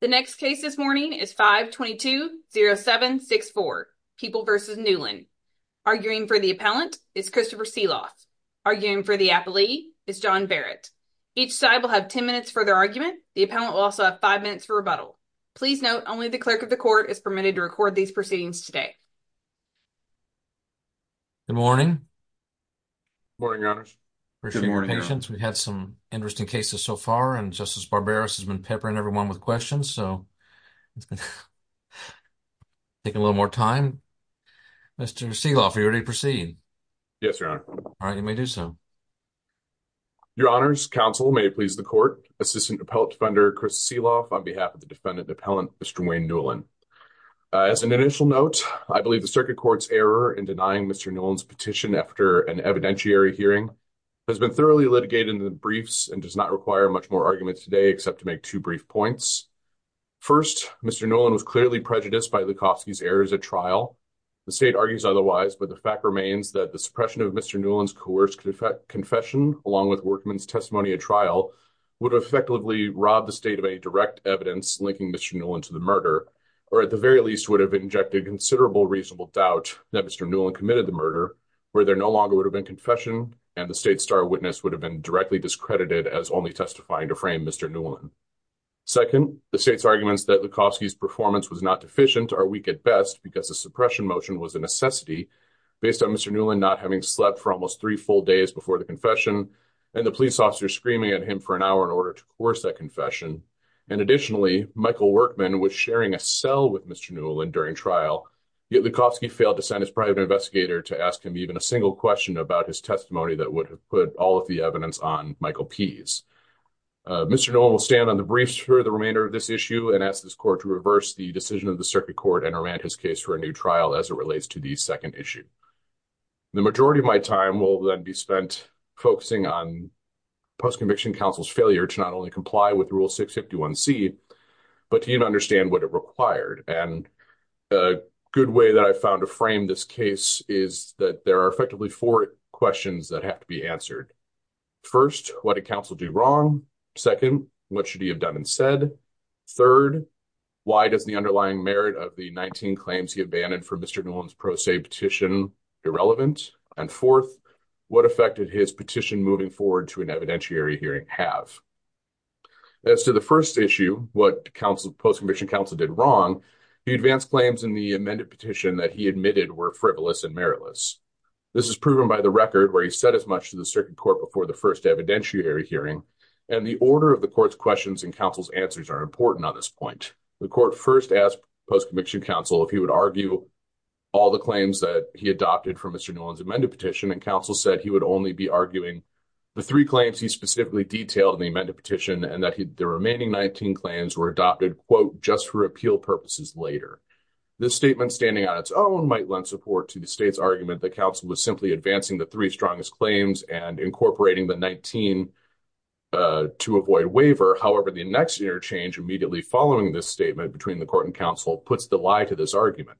The next case this morning is 522-0764, People v. Newlin. Arguing for the appellant is Christopher Sealoff. Arguing for the appellee is John Barrett. Each side will have 10 minutes for their argument. The appellant will also have five minutes for rebuttal. Please note only the clerk of the court is permitted to record these proceedings today. Good morning. Good morning, your honors. Appreciate your patience. We've had some interesting cases so far and Justice Barbaros has been peppering everyone with questions, so it's going to take a little more time. Mr. Sealoff, are you ready to proceed? Yes, your honor. All right, you may do so. Your honors, counsel, may it please the court, assistant appellate defender Chris Sealoff on behalf of the defendant appellant Mr. Wayne Newlin. As an initial note, I believe the circuit court's error in denying Mr. Newlin's petition after an evidentiary hearing has been thoroughly litigated in the briefs and does not require much more argument today except to make two brief points. First, Mr. Newlin was clearly prejudiced by Lukowski's errors at trial. The state argues otherwise, but the fact remains that the suppression of Mr. Newlin's coerced confession along with Workman's testimony at trial would have effectively robbed the state of any direct evidence linking Mr. Newlin to the murder or at the very least would have injected considerable reasonable doubt that Mr. Newlin committed the murder where there no longer would have been confession and the state's star witness would have been directly discredited as only testifying to frame Mr. Newlin. Second, the state's arguments that Lukowski's performance was not deficient are weak at best because the suppression motion was a necessity based on Mr. Newlin not having slept for almost three full days before the confession and the police officer screaming at him for an hour in order to coerce that confession and additionally Michael Workman was sharing a cell with Mr. Newlin during trial, yet Lukowski failed to send his private investigator to ask him even a single question about his testimony that would have put all of the evidence on Michael Pease. Mr. Newlin will stand on the briefs for the remainder of this issue and ask this court to reverse the decision of the circuit court and remand his case for a new trial as it relates to the second issue. The majority of my time will then be spent focusing on post-conviction counsel's failure to not only comply with Rule 651c but to even understand what it required and a good way that I found to frame this case is that there are effectively four questions that have to be answered. First, what did counsel do wrong? Second, what should he have done and said? Third, why does the underlying merit of the 19 claims he abandoned for Mr. Newlin's pro se petition irrelevant? And fourth, what effect did his petition moving forward to an evidentiary hearing have? As to the first issue, what post-conviction counsel did wrong, he advanced claims in the amended petition that he admitted were frivolous and meritless. This is proven by the record where he said as much to the circuit court before the first evidentiary hearing and the order of the court's questions and counsel's answers are important on this point. The court first asked post-conviction counsel if he would argue all the claims that he adopted from Mr. Newlin's amended petition and counsel said he would only be arguing the three claims he specifically detailed in the amended petition and that the remaining 19 claims were adopted just for appeal purposes later. This statement standing on its own might lend support to the state's argument that counsel was simply advancing the three strongest claims and incorporating the 19 to avoid waiver. However, the next interchange immediately following this statement between the court and counsel puts the lie to this argument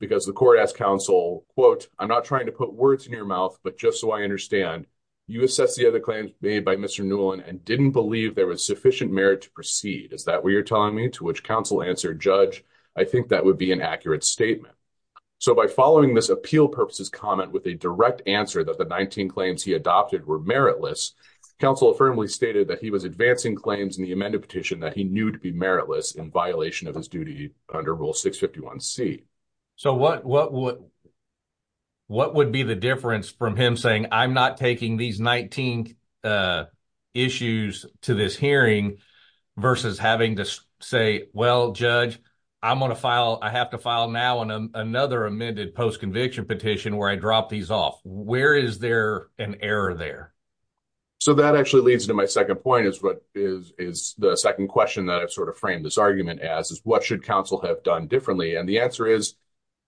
because the court asked counsel, quote, I'm not trying to put words in your mouth but just so I understand, you assess the other claims made by Mr. Newlin and didn't believe there was sufficient merit to proceed. Is that what you're telling me? To which counsel answered, judge, I think that would be an accurate statement. So by following this appeal purposes comment with a direct answer that the 19 claims he adopted were meritless, counsel affirmably stated that he was advancing claims in the amended petition that he knew to be meritless in violation of his duty under rule 651c. So what what would what would be the difference from him saying I'm not taking these 19 issues to this hearing versus having to say, well, judge, I'm going to file, I have to file now on another amended post-conviction petition where I dropped these off. Where is there an error there? So that actually leads to my second point is what is is the second question that I've sort of framed this argument as is what should counsel have done differently? And the answer is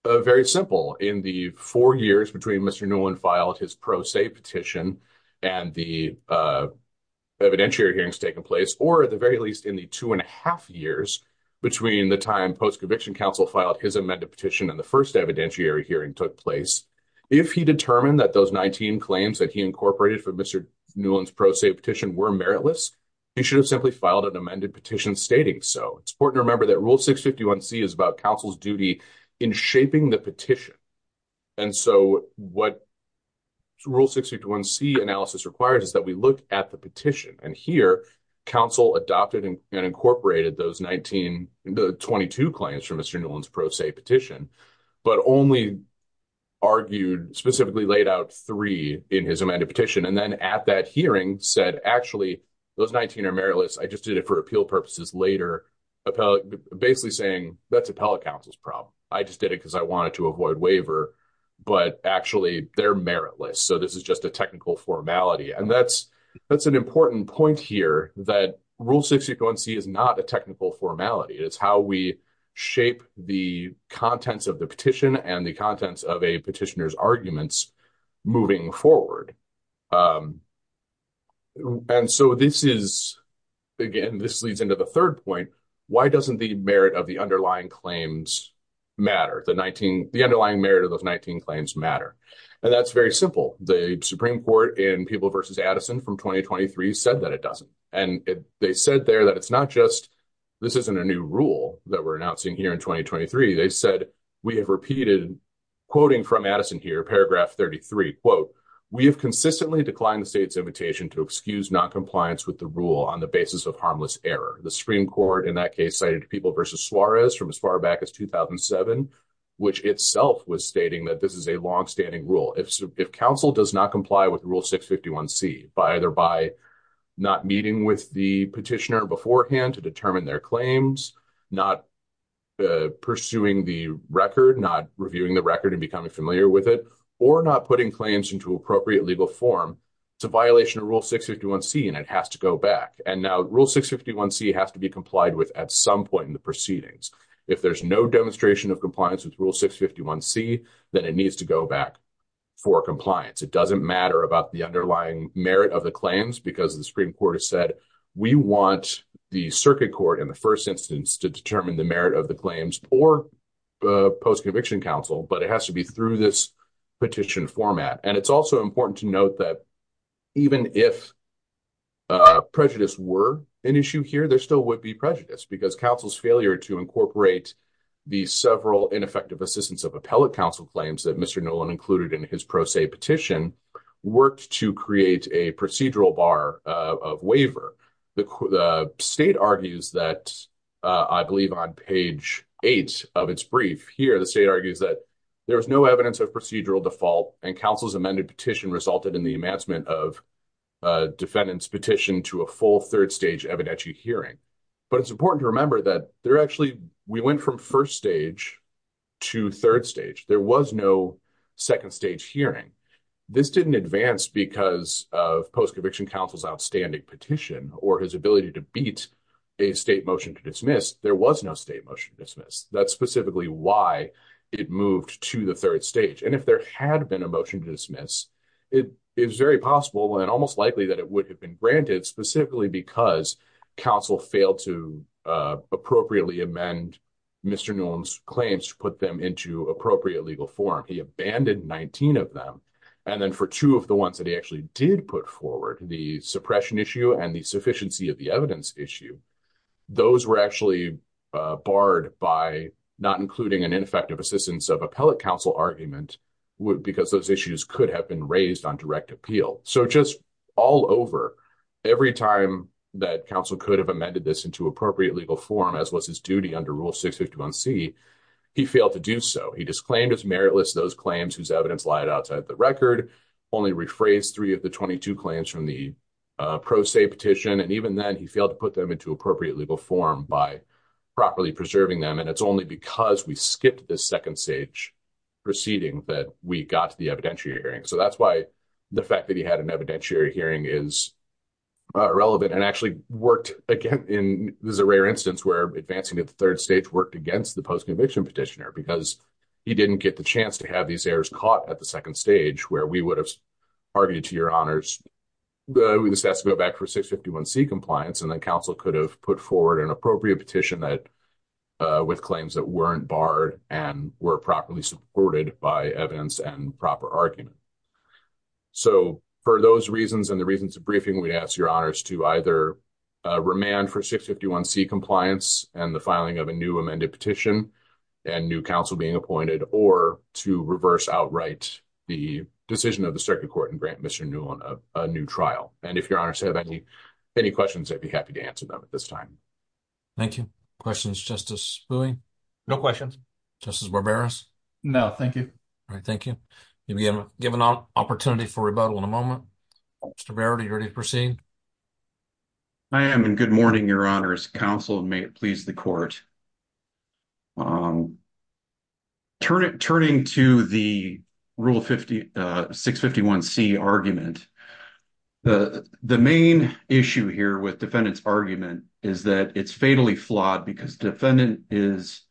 very simple. In the four years between Mr. Newland filed his pro se petition and the evidentiary hearings taking place, or at the very least in the two and a half years between the time post-conviction counsel filed his amended petition and the first evidentiary hearing took place, if he determined that those 19 claims that he incorporated for Mr. Newland's pro se petition were meritless, he should have simply filed an amended petition stating so. It's important to remember that rule 651c is about counsel's duty in shaping the petition, and so what rule 651c analysis requires is that we look at the petition, and here counsel adopted and incorporated those 19, the 22 claims from Mr. Newland's pro se petition, but only argued, specifically laid out three in his amended petition, and then at that hearing said actually those 19 are meritless. I just did it for appeal purposes later, basically saying that's appellate counsel's problem. I just did it because I wanted to avoid waiver, but actually they're meritless, so this is just a technical formality, and that's that's an important point here that rule 651c is not a technical formality. It's how we shape the contents of the petition and the contents of a petitioner's arguments moving forward. And so this is, again, this leads into the third point, why doesn't the merit of the underlying claims matter? The 19, the underlying merit of those 19 claims matter, and that's very simple. The Supreme Court in People versus Addison from 2023 said that it doesn't, and they said there that it's not just this isn't a new rule that we're announcing here in 2023. They said we have repeated, quoting from Addison here, paragraph 33, we have consistently declined the state's invitation to excuse non-compliance with the rule on the basis of harmless error. The Supreme Court in that case cited People versus Suarez from as far back as 2007, which itself was stating that this is a long-standing rule. If counsel does not comply with rule 651c by either by not meeting with the petitioner beforehand to determine their claims, not pursuing the record, not reviewing the record and becoming familiar with it, or not putting claims into appropriate legal form, it's a violation of rule 651c and it has to go back. And now rule 651c has to be complied with at some point in the proceedings. If there's no demonstration of compliance with rule 651c, then it needs to go back for compliance. It doesn't matter about the underlying merit of the claims because the Supreme Court has said we want the circuit court in the first instance to determine the merit of the claims or the post-conviction counsel, but it doesn't have to be in the petition format. And it's also important to note that even if prejudice were an issue here, there still would be prejudice because counsel's failure to incorporate the several ineffective assistance of appellate counsel claims that Mr. Nolan included in his pro se petition worked to create a procedural bar of waiver. The state argues that, I believe on page 8 of its brief here, the state of procedural default and counsel's amended petition resulted in the advancement of defendant's petition to a full third stage evidentiary hearing. But it's important to remember that there actually, we went from first stage to third stage. There was no second stage hearing. This didn't advance because of post-conviction counsel's outstanding petition or his ability to beat a state motion to dismiss. There was no state motion to dismiss. That's And if there had been a motion to dismiss, it is very possible and almost likely that it would have been granted specifically because counsel failed to appropriately amend Mr. Nolan's claims to put them into appropriate legal form. He abandoned 19 of them. And then for two of the ones that he actually did put forward, the suppression issue and the sufficiency of the evidence issue, those were actually barred by not including an ineffective assistance of appellate counsel argument because those issues could have been raised on direct appeal. So just all over, every time that counsel could have amended this into appropriate legal form, as was his duty under Rule 651c, he failed to do so. He disclaimed as meritless those claims whose evidence lied outside the record, only rephrased three of the 22 claims from the pro se petition, and even then he failed to put them into appropriate legal form by properly preserving them. And it's only because we skipped this second stage proceeding that we got to the evidentiary hearing. So that's why the fact that he had an evidentiary hearing is relevant and actually worked again in this is a rare instance where advancing to the third stage worked against the post-conviction petitioner because he didn't get the chance to have these errors caught at the second stage where we would have argued to your honors that we just have to go back for 651c compliance and then counsel could have put forward an appropriate petition that with claims that weren't barred and were properly supported by evidence and proper argument. So for those reasons and the reasons of briefing, we'd ask your honors to either remand for 651c compliance and the filing of a new amended petition and new counsel being appointed or to reverse outright the decision of the circuit court and grant Mr. Newell a new trial. And if your honors have any any questions, I'd be happy to answer them at this time. Thank you. Questions, Justice Bowie? No questions. Justice Barberas? No, thank you. All right, thank you. You'll be given an opportunity for rebuttal in a moment. Mr. Barbera, are you ready to proceed? I am and good morning, your honors. Counsel, may it please the court. Turning to the rule 651c argument, the main issue here with the defendant's argument is that it's fatally flawed because the defendant is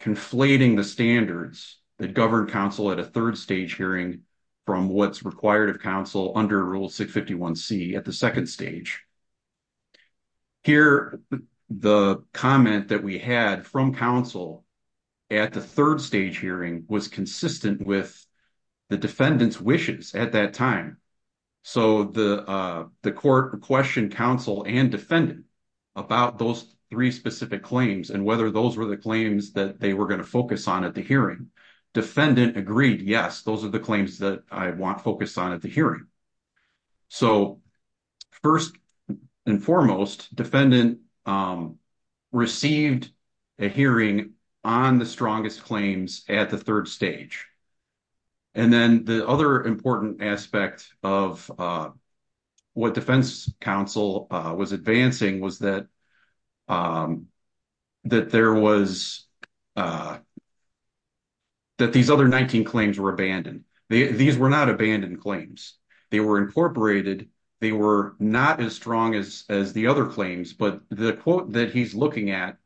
conflating the standards that govern counsel at a third stage hearing from what's required of counsel under rule 651c at the second stage. Here, the comment that we had from counsel at the third stage hearing was consistent with the defendant's wishes at that time. So the court questioned counsel and about those three specific claims and whether those were the claims that they were going to focus on at the hearing. Defendant agreed, yes, those are the claims that I want focused on at the hearing. So first and foremost, defendant received a hearing on the strongest claims at the third stage. And then the other important aspect of what defense counsel was advancing was that that there was that these other 19 claims were abandoned. These were not abandoned claims. They were incorporated. They were not as strong as as the other claims, but the quote that he's looking at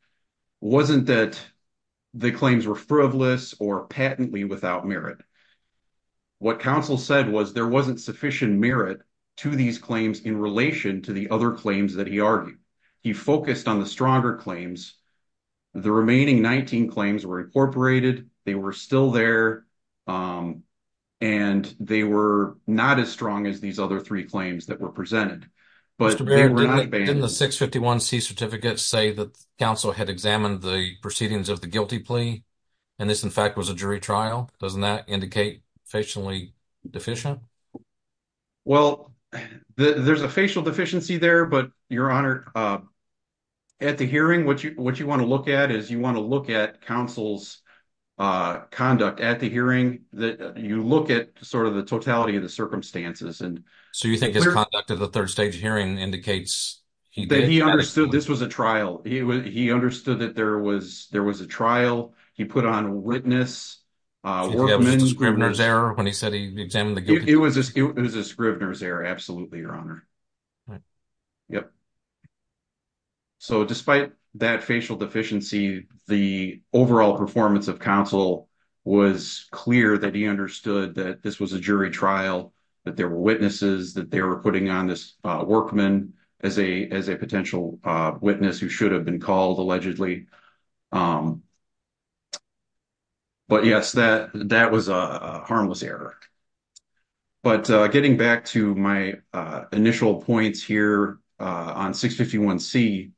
wasn't that the claims were frivolous or patently without merit. What counsel said was there wasn't sufficient merit to these claims in relation to the other claims that he argued. He focused on the stronger claims. The remaining 19 claims were incorporated. They were still there and they were not as strong as these other three claims that were presented. But they were not abandoned. Didn't the 651c certificate say that counsel had examined the proceedings of the guilty plea and this in fact was a jury trial? Doesn't that indicate facially deficient? Well, there's a facial deficiency there, but your honor, at the hearing what you want to look at is you want to look at counsel's conduct at the hearing. That you look at sort of the totality of the circumstances. So you think his conduct at the third stage hearing indicates that he understood this was a trial. He understood that there was there was a trial. He put on witness, workman, Scrivener's error when he said he examined the guilty plea. It was a Scrivener's error, absolutely your honor. Yep. So despite that facial deficiency, the overall performance of counsel was clear that he understood that this was a jury trial, that there were witnesses, that they were putting on this workman as a as a potential witness who should have been called allegedly. But yes, that that was a harmless error. But getting back to my initial points here on 651c,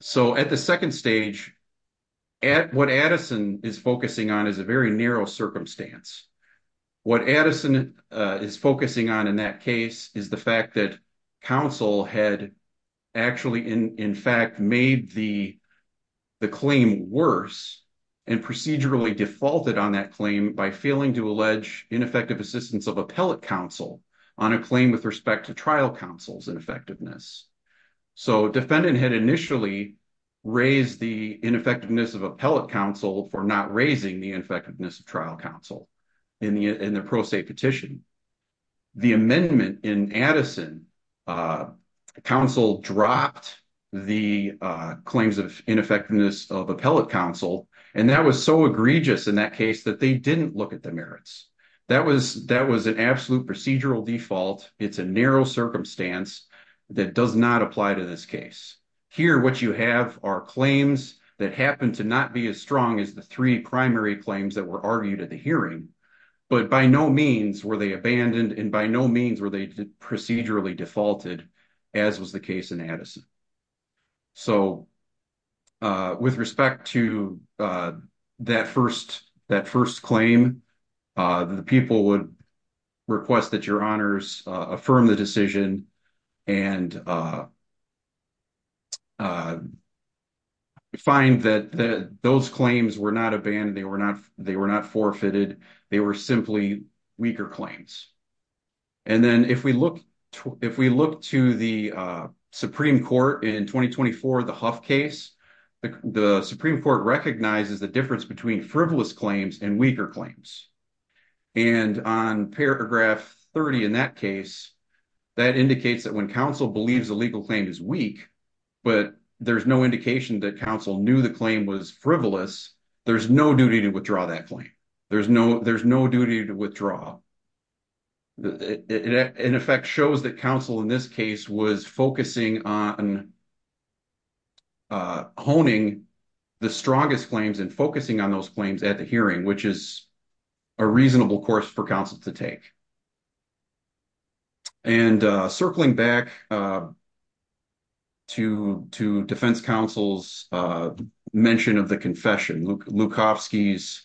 so at the second stage at what Addison is focusing on is a very narrow circumstance. What Addison is focusing on in that case is the fact that counsel had actually in in fact made the the claim worse and procedurally defaulted on that claim by failing to allege ineffective assistance of appellate counsel on a claim with respect to trial counsel's ineffectiveness. So defendant had initially raised the ineffectiveness of appellate counsel for not raising the effectiveness of trial counsel in the in the pro se petition. The amendment in Addison, counsel dropped the claims of ineffectiveness of appellate counsel and that was so egregious in that case that they didn't look at the merits. That was that was an absolute procedural default. It's a narrow circumstance that does not apply to this case. Here what you have are claims that happen to not be as strong as the three primary claims that were argued at the and by no means were they procedurally defaulted as was the case in Addison. So with respect to that first that first claim, the people would request that your honors affirm the decision and find that those claims were not abandoned, they were not claims. And then if we look if we look to the Supreme Court in 2024, the Huff case, the Supreme Court recognizes the difference between frivolous claims and weaker claims. And on paragraph 30 in that case, that indicates that when counsel believes the legal claim is weak, but there's no indication that counsel knew the claim was frivolous, there's no duty to withdraw that claim. There's no there's no duty to withdraw. It in effect shows that counsel in this case was focusing on honing the strongest claims and focusing on those claims at the hearing, which is a reasonable course for counsel to take. And circling back to to defense counsel's mention of the confession, Lukowski's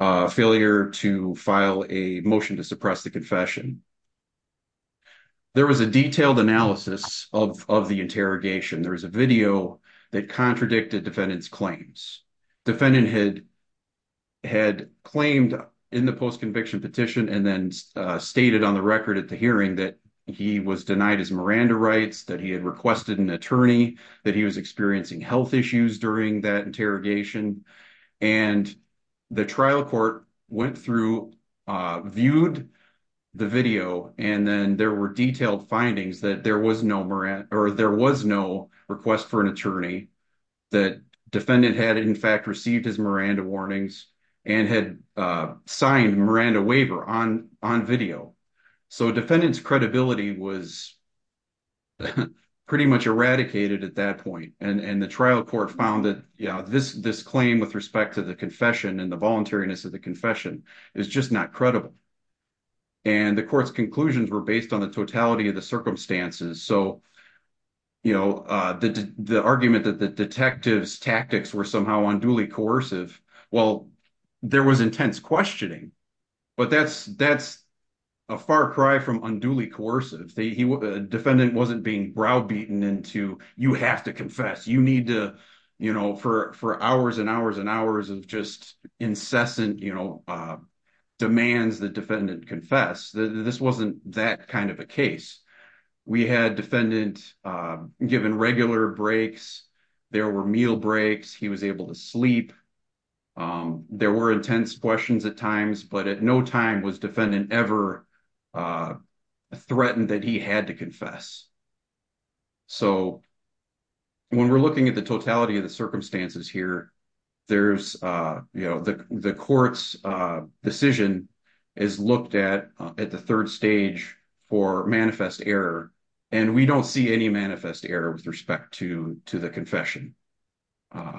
failure to file a motion to suppress the confession, there was a detailed analysis of of the interrogation. There was a video that contradicted defendant's claims. Defendant had had claimed in the post-conviction petition and then stated on the record at the hearing that he was denied his Miranda rights, that he had requested an attorney, that he was experiencing health issues during that interrogation. And the trial court went through, viewed the video and then there were detailed findings that there was no Miranda or there was no request for an attorney, that defendant had in fact received his Miranda warnings and had signed Miranda waiver on on video. So defendant's credibility was pretty much eradicated at that point and the trial court found that this claim with respect to the confession and the voluntariness of the confession is just not credible. And the court's conclusions were based on the totality of the circumstances. So the argument that the detective's tactics were somehow unduly coercive, well there was intense questioning, but that's a far cry from unduly coercive. Defendant wasn't being browbeaten into, you have to confess, you need to, you know, for hours and hours and hours of just incessant, you know, demands the defendant confess. This wasn't that kind of a case. We had defendant given regular breaks, there were meal breaks, he was able to sleep, there were intense questions at times, but at no time was defendant ever threatened that he had to confess. So when we're looking at the totality of the circumstances here, there's, you know, the court's decision is looked at at the third stage for manifest error and we don't see any manifest error with respect to to the confession. All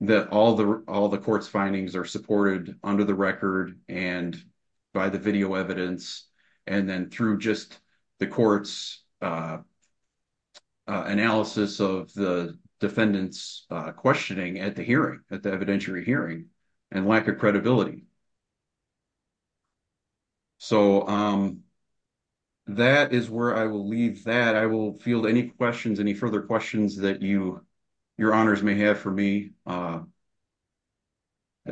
the court's findings are supported under the record and by the video evidence and then through just the court's analysis of the defendant's questioning at the hearing, at the evidentiary hearing, and lack of So that is where I will leave that. I will field any questions, any further questions that you your honors may have for me at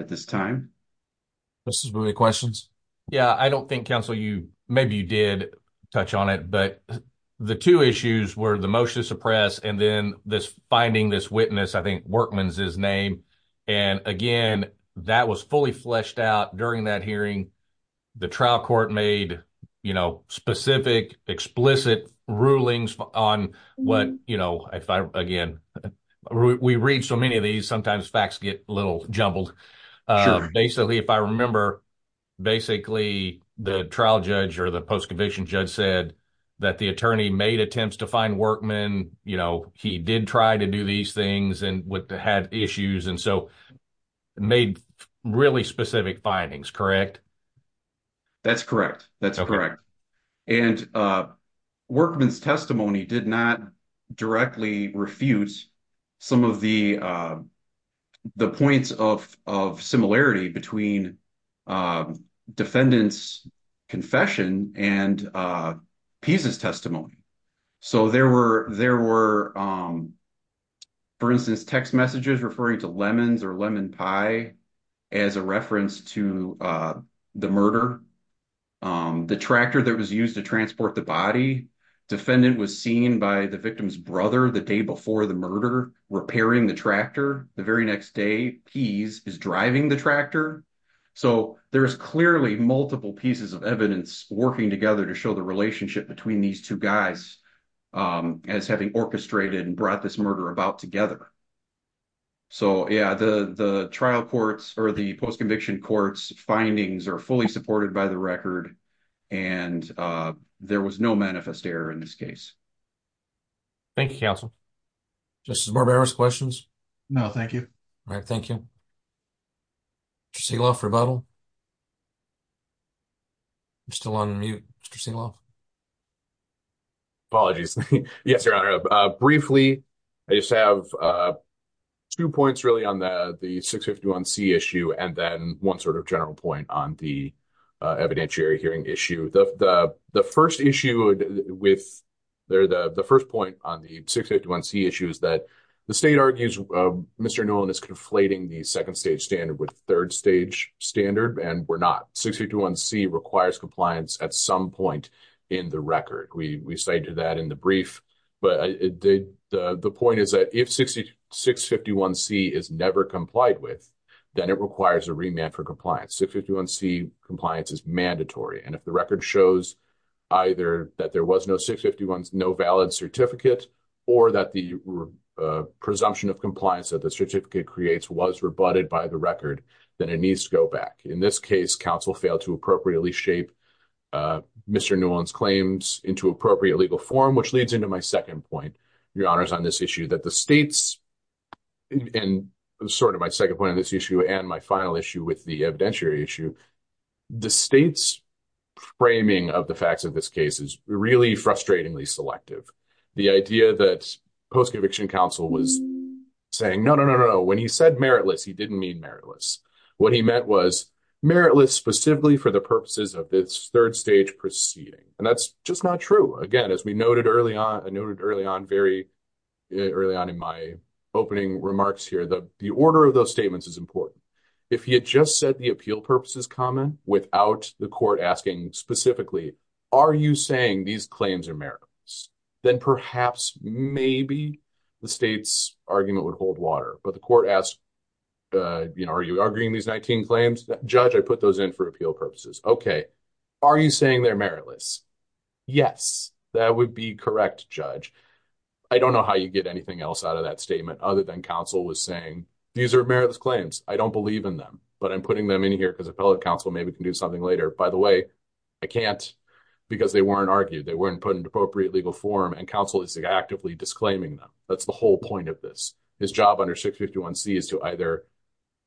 this time. Mr. Smith, any questions? Yeah, I don't think counsel you, maybe you did touch on it, but the two issues were the motion to suppress and then this finding this witness, I think Workman's his name, and again, that was fully fleshed out during that hearing. The trial court made, you know, specific explicit rulings on what, you know, again, we read so many of these, sometimes facts get a little jumbled. Basically, if I remember, basically the trial judge or the post-conviction judge said that the attorney made attempts to find Workman, you know, he did try to do these things and had issues and so made really specific findings, correct? That's correct, that's correct, and Workman's testimony did not directly refute some of the the points of similarity between defendant's confession and Pease's testimony. So there were, for instance, text messages referring to lemons or lemon pie as a reference to the murder. The tractor that was used to transport the body, defendant was seen by the victim's brother the day before the murder repairing the tractor. The very next day, Pease is driving the tractor. So there's clearly multiple pieces of evidence working together to show the relationship between these two guys as having orchestrated and brought this murder about together. So yeah, the trial courts or the post-conviction courts findings are fully supported by the record and there was no manifest error in this case. Thank you, counsel. Justice Barbero, any questions? No, thank you. All right, thank you. Mr. Sigloff, rebuttal? I'm still on mute. Mr. Sigloff? Apologies, yes, your honor. Briefly, I just have two points really on the 651C issue and then one sort of general point on the evidentiary hearing issue. The first issue with the first point on the 651C issue is that the state argues Mr. Nolan is conflating the second stage standard with third stage standard and we're not. 651C requires compliance at some point in the record. We cited that in the brief, but the point is that if 651C is never complied with, then it requires a remand for compliance. 651C compliance is mandatory and if the record shows either that there was no 651, no valid certificate, or that the presumption of compliance that the certificate creates was rebutted by the record, then it needs to go back. In this case, counsel failed to appropriately shape Mr. Nolan's claims into appropriate legal form, which leads into my second point, your honors, on this issue that the state's and sort of my second point on this issue and my final issue with the evidentiary issue, the state's framing of the facts of this case is really frustratingly selective. The idea that post-conviction counsel was saying, no, no, no, no, when he said meritless, he didn't mean meritless. What he meant was meritless specifically for the purposes of this third stage proceeding and that's just not true. Again, as we noted early on, I noted early on very early on in my opening remarks here, the order of those statements is important. If he had just said the appeal purposes comment without the court asking specifically, are you saying these claims are meritless, then perhaps maybe the state's argument would hold water, but the court asked, you know, are you arguing these 19 claims? Judge, I put those in for appeal purposes. Okay, are you saying they're meritless? Yes, that would be correct, Judge. I don't know how you get anything else out of that statement other than counsel was saying these are meritless claims. I don't believe in them, but I'm putting them in here because a fellow counsel maybe can do something later. By the way, I can't because they weren't argued. They weren't put into appropriate legal form and counsel is actively disclaiming them. That's the whole point of this. His job under 651c is to either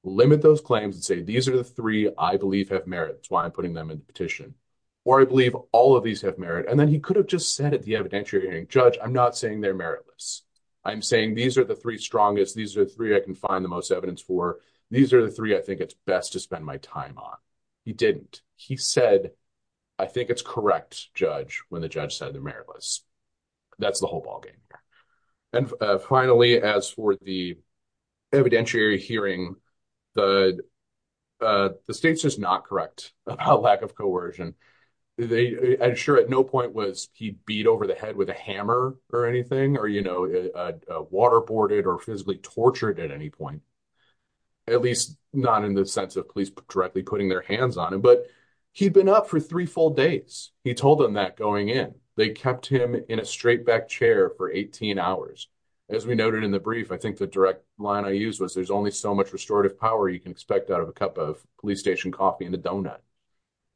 limit those claims and say these are the three I believe have merit. That's why I'm putting them in the petition where I believe all of these have merit, and then he could have just said at the evidentiary hearing, Judge, I'm not saying they're meritless. I'm saying these are the three strongest. These are three I can find the most evidence for. These are the three I think it's best to spend my time on. He didn't. He said, I think it's correct, Judge, when the judge said they're meritless. That's the whole ballgame. And finally, as for the evidentiary hearing, the state's just not correct about lack of coercion. I'm sure at no point was he beat over the head with a hammer or anything or waterboarded or physically tortured at any point, at least not in the sense of police directly putting their hands on him, but he'd been up for three full days. He told them that going in. They kept him in a straight back chair for 18 hours. As we much restorative power you can expect out of a cup of police station coffee and a donut.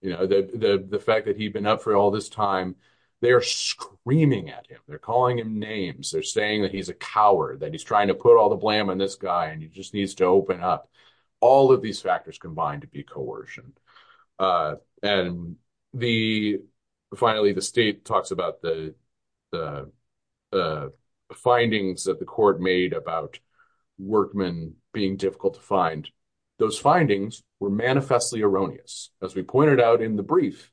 The fact that he'd been up for all this time, they're screaming at him. They're calling him names. They're saying that he's a coward, that he's trying to put all the blame on this guy, and he just needs to open up. All of these factors combine to be coercion. And finally, the state talks about the the findings that the court made about workmen being difficult to find. Those findings were manifestly erroneous. As we pointed out in the brief,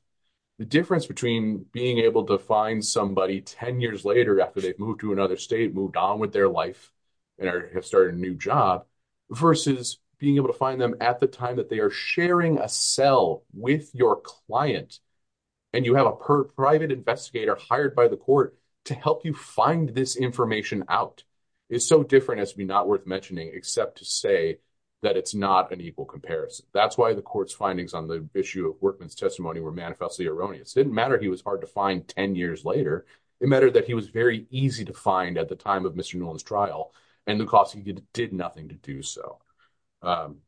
the difference between being able to find somebody 10 years later after they've moved to another state, moved on with their life, and have started a new job, versus being able to find them at the time that they are sharing a cell with your client, and you have a private investigator hired by the court to help you find this information out, is so different. It has to be not worth mentioning except to say that it's not an equal comparison. That's why the court's findings on the issue of workman's testimony were manifestly erroneous. It didn't matter he was hard to find 10 years later. It mattered that he was very easy to find at the time of Mr. Nolan's trial, and the cost he did nothing to do so.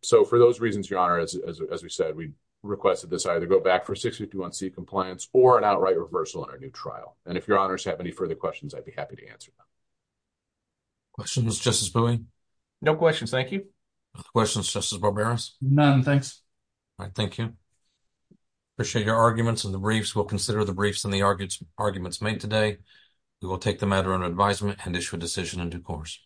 So for those reasons, as we said, we request that this either go back for 651C compliance or an outright reversal in our new trial. And if your honors have any further questions, I'd be happy to answer them. Questions, Justice Bowie? No questions, thank you. Questions, Justice Barberos? None, thanks. All right, thank you. Appreciate your arguments in the briefs. We'll consider the briefs and the arguments made today. We will take the matter under advisement and issue a decision in due course.